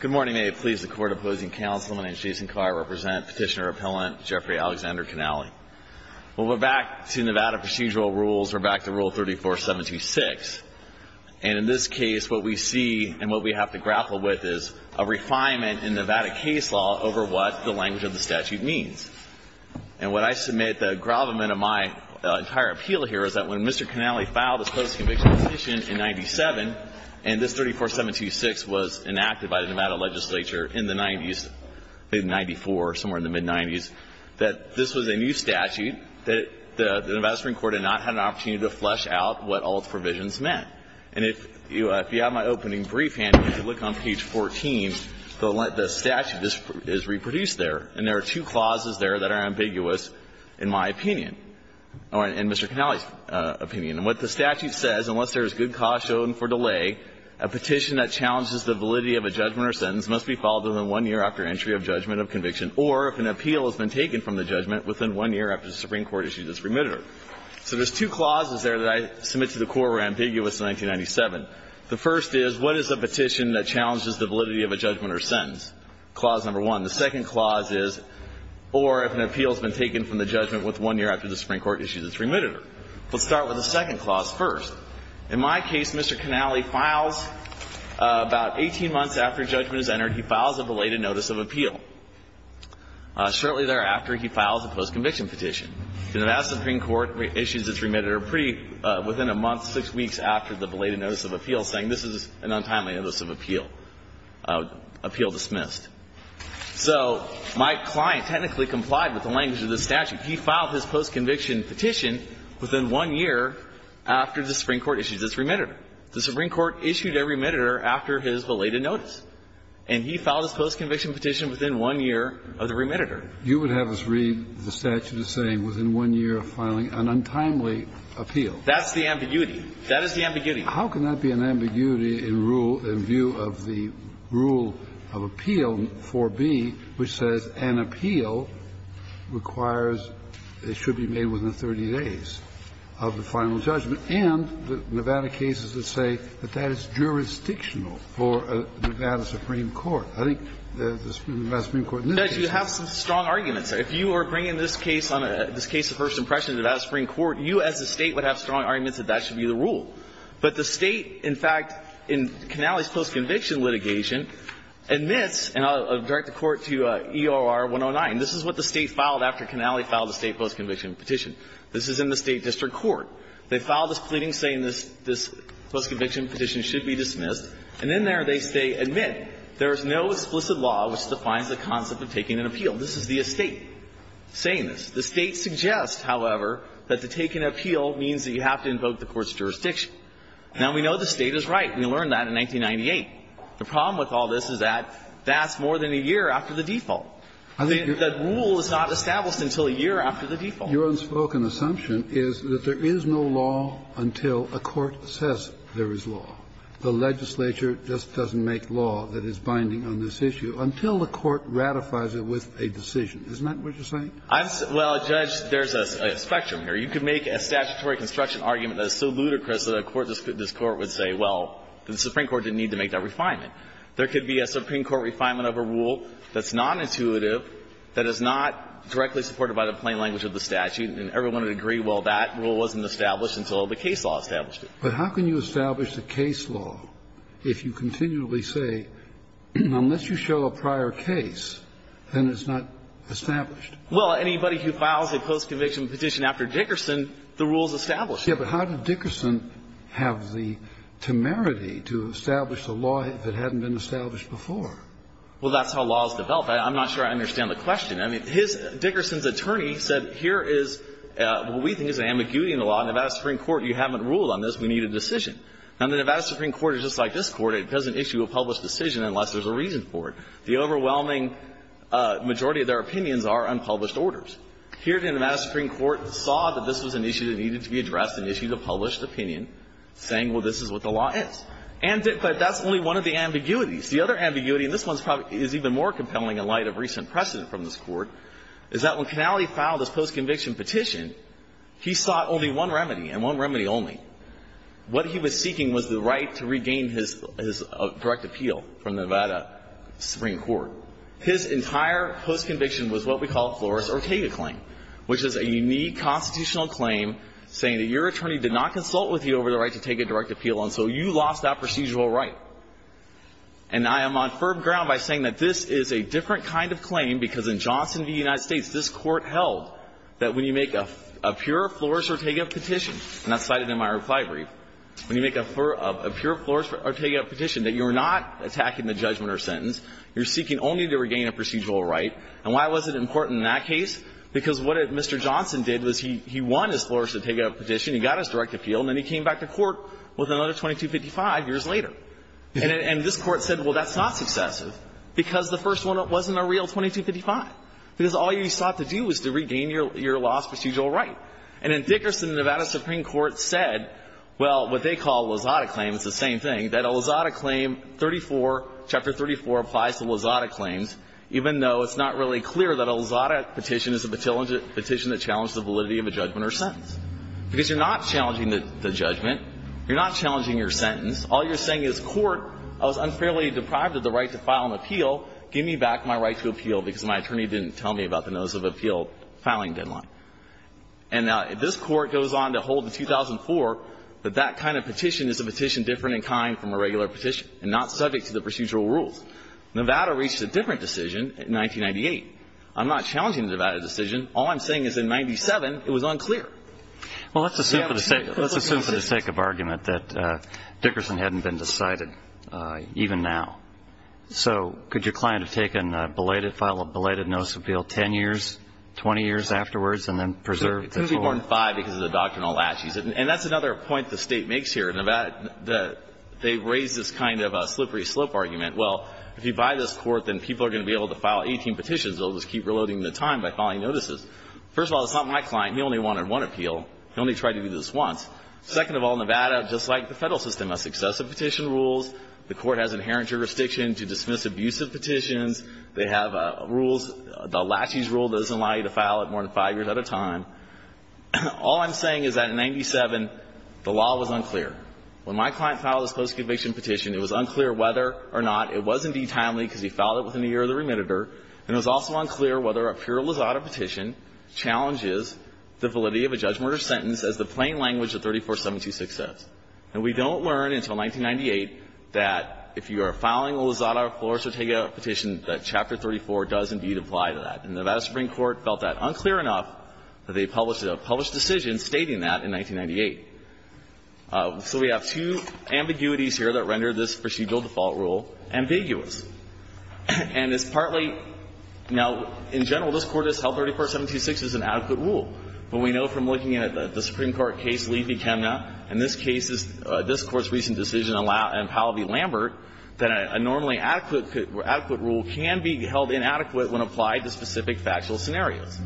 Good morning. May it please the Court, Opposing Councilman and Jason Carr represent Petitioner-Appellant Jeffrey Alexander Canally. Well, we're back to Nevada procedural rules. We're back to Rule 34-726. And in this case, what we see and what we have to grapple with is a refinement in Nevada case law over what the language of the statute means. And what I submit, the gravamen of my entire appeal here, is that when Mr. Canally filed his post-conviction petition in 97, and this 34-726 was enacted by the Nevada legislature in the 90s, maybe 94, somewhere in the mid-90s, that this was a new statute that the Nevada Supreme Court had not had an opportunity to flesh out what all its provisions meant. And if you have my opening brief, and if you look on page 14, the statute is reproduced there. And there are two clauses there that are ambiguous in my opinion, or in Mr. Canally's opinion. And what the statute says, unless there is good cause shown for delay, a petition that challenges the validity of a judgment or sentence must be filed within one year after entry of judgment of conviction, or if an appeal has been taken from the judgment within one year after the Supreme Court issues its remitter. So there's two clauses there that I submit to the Court were ambiguous in 1997. The first is, what is a petition that challenges the validity of a judgment or sentence? Clause number one. The second clause is, or if an appeal has been taken from the judgment within one year after the Supreme Court issues its remitter. Let's start with the second clause first. In my case, Mr. Canally files about 18 months after judgment is entered, he files a belated notice of appeal. Shortly thereafter, he files a post-conviction petition. The Nevada Supreme Court issues its remitter pretty within a month, six weeks after the belated notice of appeal, saying this is an untimely notice of appeal, appeal dismissed. So my client technically complied with the language of the statute. He filed his post-conviction petition within one year after the Supreme Court issued its remitter. The Supreme Court issued a remitter after his belated notice. And he filed his post-conviction petition within one year of the remitter. Kennedy. You would have us read the statute as saying within one year of filing an untimely appeal. That's the ambiguity. That is the ambiguity. Kennedy. How can that be an ambiguity in rule, in view of the rule of appeal 4b, which says an appeal requires, it should be made within 30 days of the final judgment? And the Nevada cases that say that that is jurisdictional for Nevada Supreme Court. I think the Nevada Supreme Court in this case is. You have some strong arguments. If you are bringing this case on a, this case of first impression to Nevada Supreme Court, you as a State would have strong arguments that that should be the rule. But the State, in fact, in Connelly's post-conviction litigation, admits, and I'll direct the Court to EOR 109. This is what the State filed after Connelly filed a State post-conviction petition. This is in the State district court. They filed this pleading saying this post-conviction petition should be dismissed, and in there they say, admit, there is no explicit law which defines the concept of taking an appeal. This is the State saying this. The State suggests, however, that to take an appeal means that you have to invoke the court's jurisdiction. Now, we know the State is right. We learned that in 1998. The problem with all this is that that's more than a year after the default. The rule is not established until a year after the default. Your unspoken assumption is that there is no law until a court says there is law. The legislature just doesn't make law that is binding on this issue until the court ratifies it with a decision. Isn't that what you're saying? Well, Judge, there's a spectrum here. You could make a statutory construction argument that is so ludicrous that a court of this Court would say, well, the Supreme Court didn't need to make that refinement. There could be a Supreme Court refinement of a rule that's nonintuitive, that is not directly supported by the plain language of the statute, and everyone would agree, well, that rule wasn't established until the case law established it. But how can you establish the case law if you continually say, unless you show a prior case, then it's not established? Well, anybody who files a post-conviction petition after Dickerson, the rule is established. Yes, but how did Dickerson have the temerity to establish the law if it hadn't been established before? Well, that's how law is developed. I'm not sure I understand the question. I mean, his – Dickerson's attorney said, here is what we think is an ambiguity in the law. Nevada Supreme Court, you haven't ruled on this. We need a decision. Now, the Nevada Supreme Court is just like this Court. It doesn't issue a published decision unless there's a reason for it. The overwhelming majority of their opinions are unpublished orders. Here, the Nevada Supreme Court saw that this was an issue that needed to be addressed, and issued a published opinion, saying, well, this is what the law is. But that's only one of the ambiguities. The other ambiguity, and this one is even more compelling in light of recent precedent from this Court, is that when Canale filed this post-conviction petition, he sought only one remedy, and one remedy only. What he was seeking was the right to regain his – his direct appeal from the Nevada Supreme Court. His entire post-conviction was what we call Flores-Ortega claim, which is a unique constitutional claim saying that your attorney did not consult with you over the right to take a direct appeal, and so you lost that procedural right. And I am on firm ground by saying that this is a different kind of claim, because in Johnson v. United States, this Court held that when you make a pure Flores-Ortega petition, and that's cited in my reply brief, when you make a pure Flores-Ortega petition, that you're not attacking the judgment or sentence. You're seeking only to regain a procedural right. And why was it important in that case? Because what Mr. Johnson did was he won his Flores-Ortega petition, he got his direct appeal, and then he came back to court with another 2255 years later. And this Court said, well, that's not successive, because the first one wasn't a real 2255, because all you sought to do was to regain your lost procedural right. And in Dickerson, the Nevada Supreme Court said, well, what they call Lozada claims is the same thing, that a Lozada claim 34, Chapter 34, applies to Lozada claims, even though it's not really clear that a Lozada petition is a petition that challenges the validity of a judgment or sentence, because you're not challenging the judgment. You're not challenging your sentence. All you're saying is, Court, I was unfairly deprived of the right to file an appeal. Give me back my right to appeal, because my attorney didn't tell me about the notice of appeal filing deadline. And this Court goes on to hold in 2004 that that kind of petition is a petition different in kind from a regular petition and not subject to the procedural rules. Nevada reached a different decision in 1998. I'm not challenging the Nevada decision. All I'm saying is in 1997, it was unclear. Well, let's assume for the sake of argument that Dickerson hadn't been decided even now. So could your client have taken, belated, filed a belated notice of appeal 10 years, 20 years afterwards, and then preserved the court? He's going to be born 5 because of the doctrinal latches. And that's another point the State makes here in Nevada, that they raise this kind of slippery slope argument. Well, if you buy this Court, then people are going to be able to file 18 petitions. They'll just keep reloading the time by filing notices. First of all, it's not my client. He only wanted one appeal. He only tried to do this once. Second of all, Nevada, just like the Federal system, has excessive petition rules. The Court has inherent jurisdiction to dismiss abusive petitions. They have rules. The latches rule doesn't allow you to file it more than 5 years at a time. All I'm saying is that in 1997, the law was unclear. When my client filed this post-conviction petition, it was unclear whether or not it was indeed timely because he filed it within a year of the remitter, and it was also unclear whether a peerless audit petition challenges the validity of a judgment or sentence as the plain language of 34726 says. And we don't learn until 1998 that if you are filing a Lozada-Flores-Ortega petition, that Chapter 34 does indeed apply to that. And Nevada Supreme Court felt that unclear enough that they published a published decision stating that in 1998. So we have two ambiguities here that render this procedural default rule ambiguous. And it's partly now, in general, this Court has held 34726 is an adequate rule. But we know from looking at the Supreme Court case Levy-Kemner and this case's this Court's recent decision in Powell v. Lambert that a normally adequate rule can be held inadequate when applied to specific factual scenarios.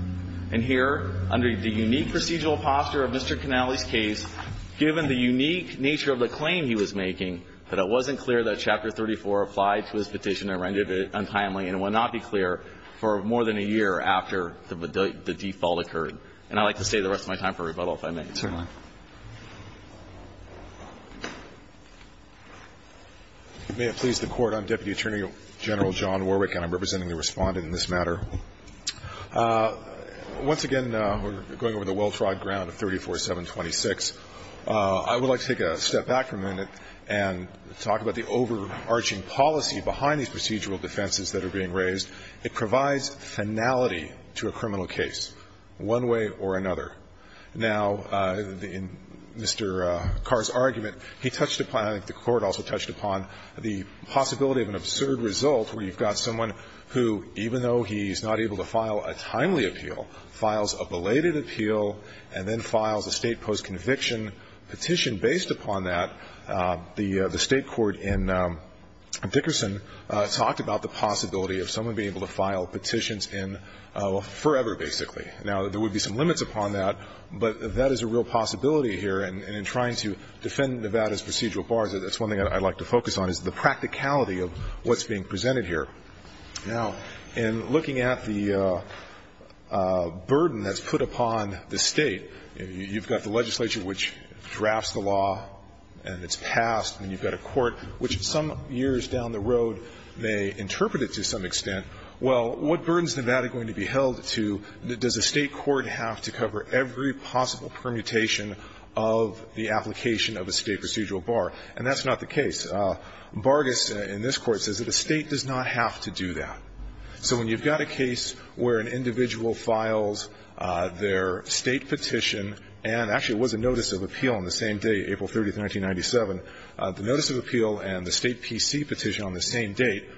And here, under the unique procedural posture of Mr. Canale's case, given the unique nature of the claim he was making, that it wasn't clear that Chapter 34 applied to his petition and rendered it untimely, and it would not be clear for more than a year after the default occurred. And I'd like to stay the rest of my time for rebuttal, if I may. Roberts. May it please the Court. I'm Deputy Attorney General John Warwick, and I'm representing the Respondent in this matter. Once again, we're going over the well-trod ground of 34726. I would like to take a step back for a minute and talk about the overarching policy behind these procedural defenses that are being raised. It provides finality to a criminal case. One way or another. Now, in Mr. Carr's argument, he touched upon, I think the Court also touched upon, the possibility of an absurd result where you've got someone who, even though he's not able to file a timely appeal, files a belated appeal and then files a state postconviction petition. Based upon that, the State court in Dickerson talked about the possibility of someone being able to file petitions in forever, basically. Now, there would be some limits upon that, but that is a real possibility here. And in trying to defend Nevada's procedural bars, that's one thing I'd like to focus on, is the practicality of what's being presented here. Now, in looking at the burden that's put upon the State, you've got the legislature which drafts the law and it's passed, and you've got a court which some years down the road may interpret it to some extent. Well, what burden is Nevada going to be held to? Does a State court have to cover every possible permutation of the application of a State procedural bar? And that's not the case. Bargess in this Court says that a State does not have to do that. So when you've got a case where an individual files their State petition, and actually it was a notice of appeal on the same day, April 30th, 1997, the notice of appeal and the State PC petition on the same date,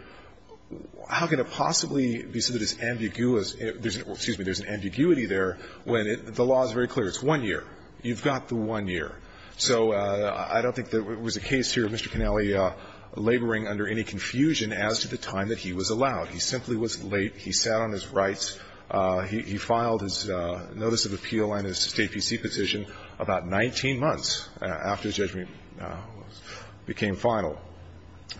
how can it possibly be so that it's ambiguous, excuse me, there's an ambiguity there when the law is very clear. It's one year. You've got the one year. So I don't think there was a case here of Mr. Connelly laboring under any confusion as to the time that he was allowed. He simply was late. He sat on his rights. He filed his notice of appeal and his State PC petition about 19 months after his judgment became final.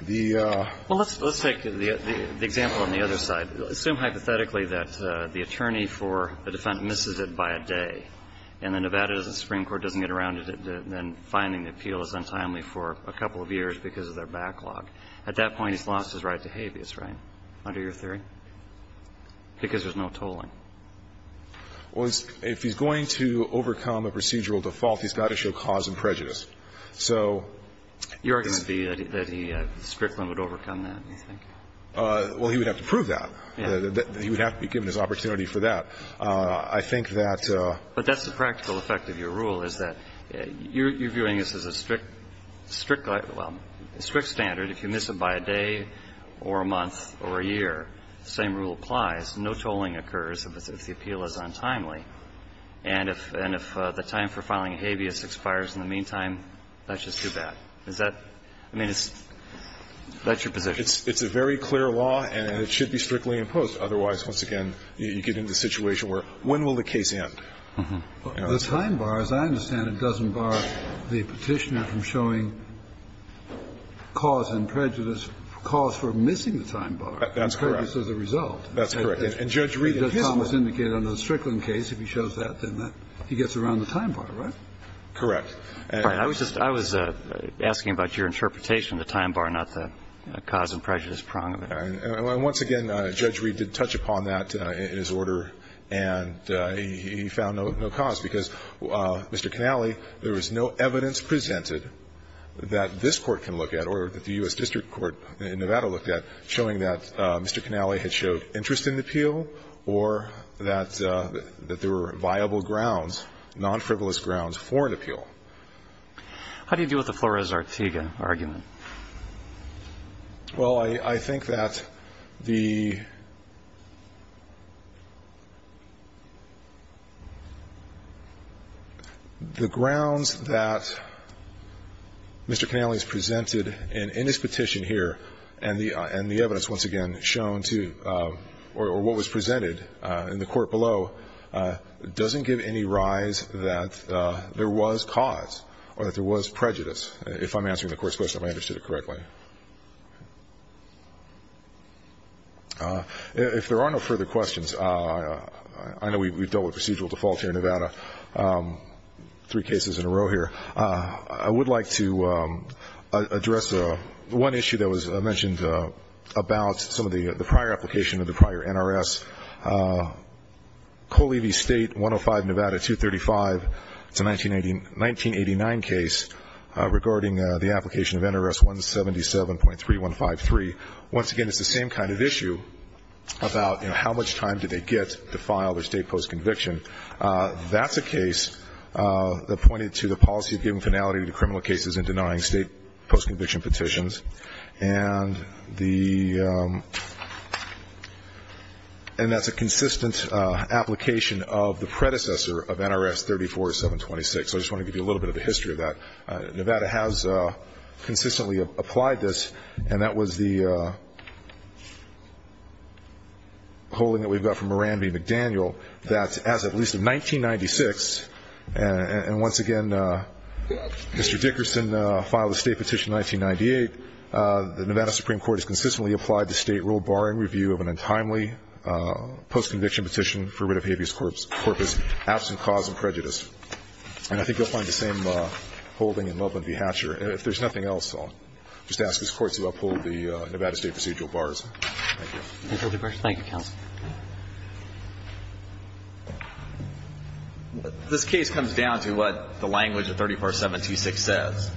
The ---- Well, let's take the example on the other side. Assume hypothetically that the attorney for a defense misses it by a day and the Nevada Supreme Court doesn't get around to then finding the appeal is untimely for a couple of years because of their backlog. At that point, he's lost his right to habeas, right? Under your theory? Because there's no tolling. Well, if he's going to overcome a procedural default, he's got to show cause and prejudice. So ---- Your argument would be that he strictly would overcome that, you think? Well, he would have to prove that. He would have to be given his opportunity for that. I think that ---- But that's the practical effect of your rule, is that you're viewing this as a strict ---- well, a strict standard. If you miss it by a day or a month or a year, the same rule applies. No tolling occurs if the appeal is untimely. And if the time for filing a habeas expires in the meantime, that's just too bad. Is that ---- I mean, it's ---- that's your position. It's a very clear law and it should be strictly imposed. Otherwise, once again, you get into a situation where when will the case end? The time bar, as I understand it, doesn't bar the Petitioner from showing cause and prejudice, cause for missing the time bar. That's correct. And prejudice is the result. That's correct. And Judge Reed and his law. But as Thomas indicated on the Strickland case, if he shows that, then that he gets around the time bar, right? Correct. All right. I was just ---- I was asking about your interpretation of the time bar, not the cause and prejudice prong of it. And once again, Judge Reed did touch upon that in his order, and he found no cause, because, Mr. Canale, there was no evidence presented that this Court can look at or that the U.S. District Court in Nevada looked at showing that Mr. Canale had showed interest in the appeal or that there were viable grounds, non-frivolous grounds, for an appeal. How do you deal with the Flores-Artega argument? Well, I think that the grounds that Mr. Canale has presented in his petition here and the evidence, once again, shown to the Court that Mr. Canale had shown interest or what was presented in the court below doesn't give any rise that there was cause or that there was prejudice, if I'm answering the Court's question, if I understood it correctly. If there are no further questions, I know we've dealt with procedural default here in Nevada three cases in a row here. I would like to address one issue that was mentioned about some of the prior application of the prior NRS, Coley v. State 105, Nevada 235. It's a 1989 case regarding the application of NRS 177.3153. Once again, it's the same kind of issue about how much time did they get to file their state postconviction. That's a case that pointed to the policy of giving finality to criminal cases and denying state postconviction petitions. And that's a consistent application of the predecessor of NRS 34726. I just want to give you a little bit of a history of that. Nevada has consistently applied this, and that was the holding that we've got from Moran v. McDaniel, that as of at least 1996, and once again, Mr. Dickerson filed a state petition in 1998, the Nevada Supreme Court has consistently applied the state rule barring review of an untimely postconviction petition for writ of habeas corpus, absent cause and prejudice. And I think you'll find the same holding in Loveland v. Hatcher. And if there's nothing else, I'll just ask this Court to uphold the Nevada State procedural Thank you. Thank you, Counsel. This case comes down to what the language of 34726 says.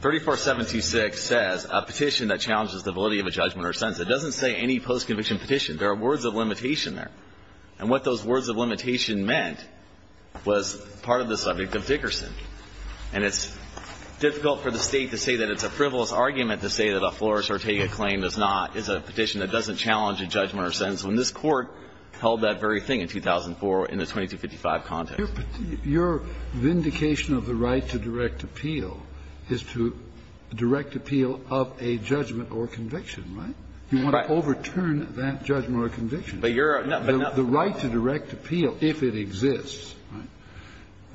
34726 says a petition that challenges the validity of a judgment or sentence. It doesn't say any postconviction petition. There are words of limitation there. And what those words of limitation meant was part of the subject of Dickerson. And it's difficult for the State to say that it's a frivolous argument to say that a florist or taker claim is not ñ is a petition that doesn't challenge a judgment or sentence. And this Court held that very thing in 2004 in the 2255 context. But your vindication of the right to direct appeal is to direct appeal of a judgment or conviction, right? Right. You want to overturn that judgment or conviction. But you're ñ The right to direct appeal, if it exists,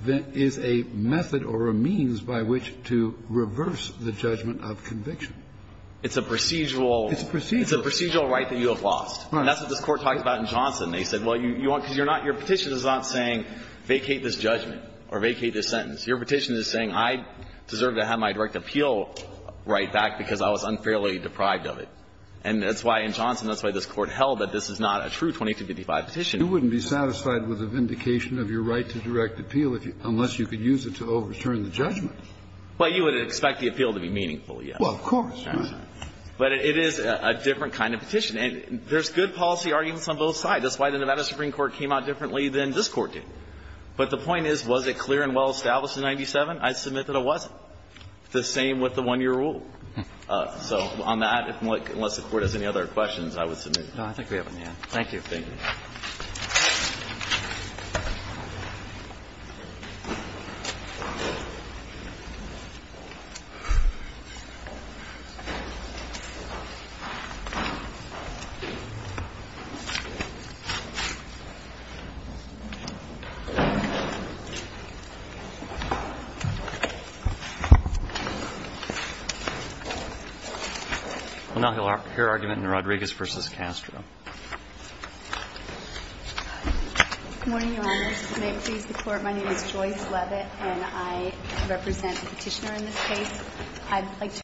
is a method or a means by which to reverse the judgment of conviction. It's a procedural ñ It's a procedural ñ It's a procedural right that you have lost. And that's what this Court talked about in Johnson. They said, well, you want ñ because you're not ñ your petition is not saying vacate this judgment or vacate this sentence. Your petition is saying I deserve to have my direct appeal right back because I was unfairly deprived of it. And that's why in Johnson, that's why this Court held that this is not a true 2255 petition. You wouldn't be satisfied with a vindication of your right to direct appeal unless you could use it to overturn the judgment. Well, you would expect the appeal to be meaningful, yes. Well, of course. But it is a different kind of petition. And there's good policy arguments on both sides. That's why the Nevada Supreme Court came out differently than this Court did. But the point is, was it clear and well-established in 97? I submit that it wasn't. The same with the one-year rule. So on that, unless the Court has any other questions, I would submit ñ No, I think we have them. Thank you. Thank you. Well, now he'll hear argument in Rodriguez v. Castro. Good morning, Your Honors. If it may please the Court, my name is Joyce Leavitt, and I represent the Petitioner in this case.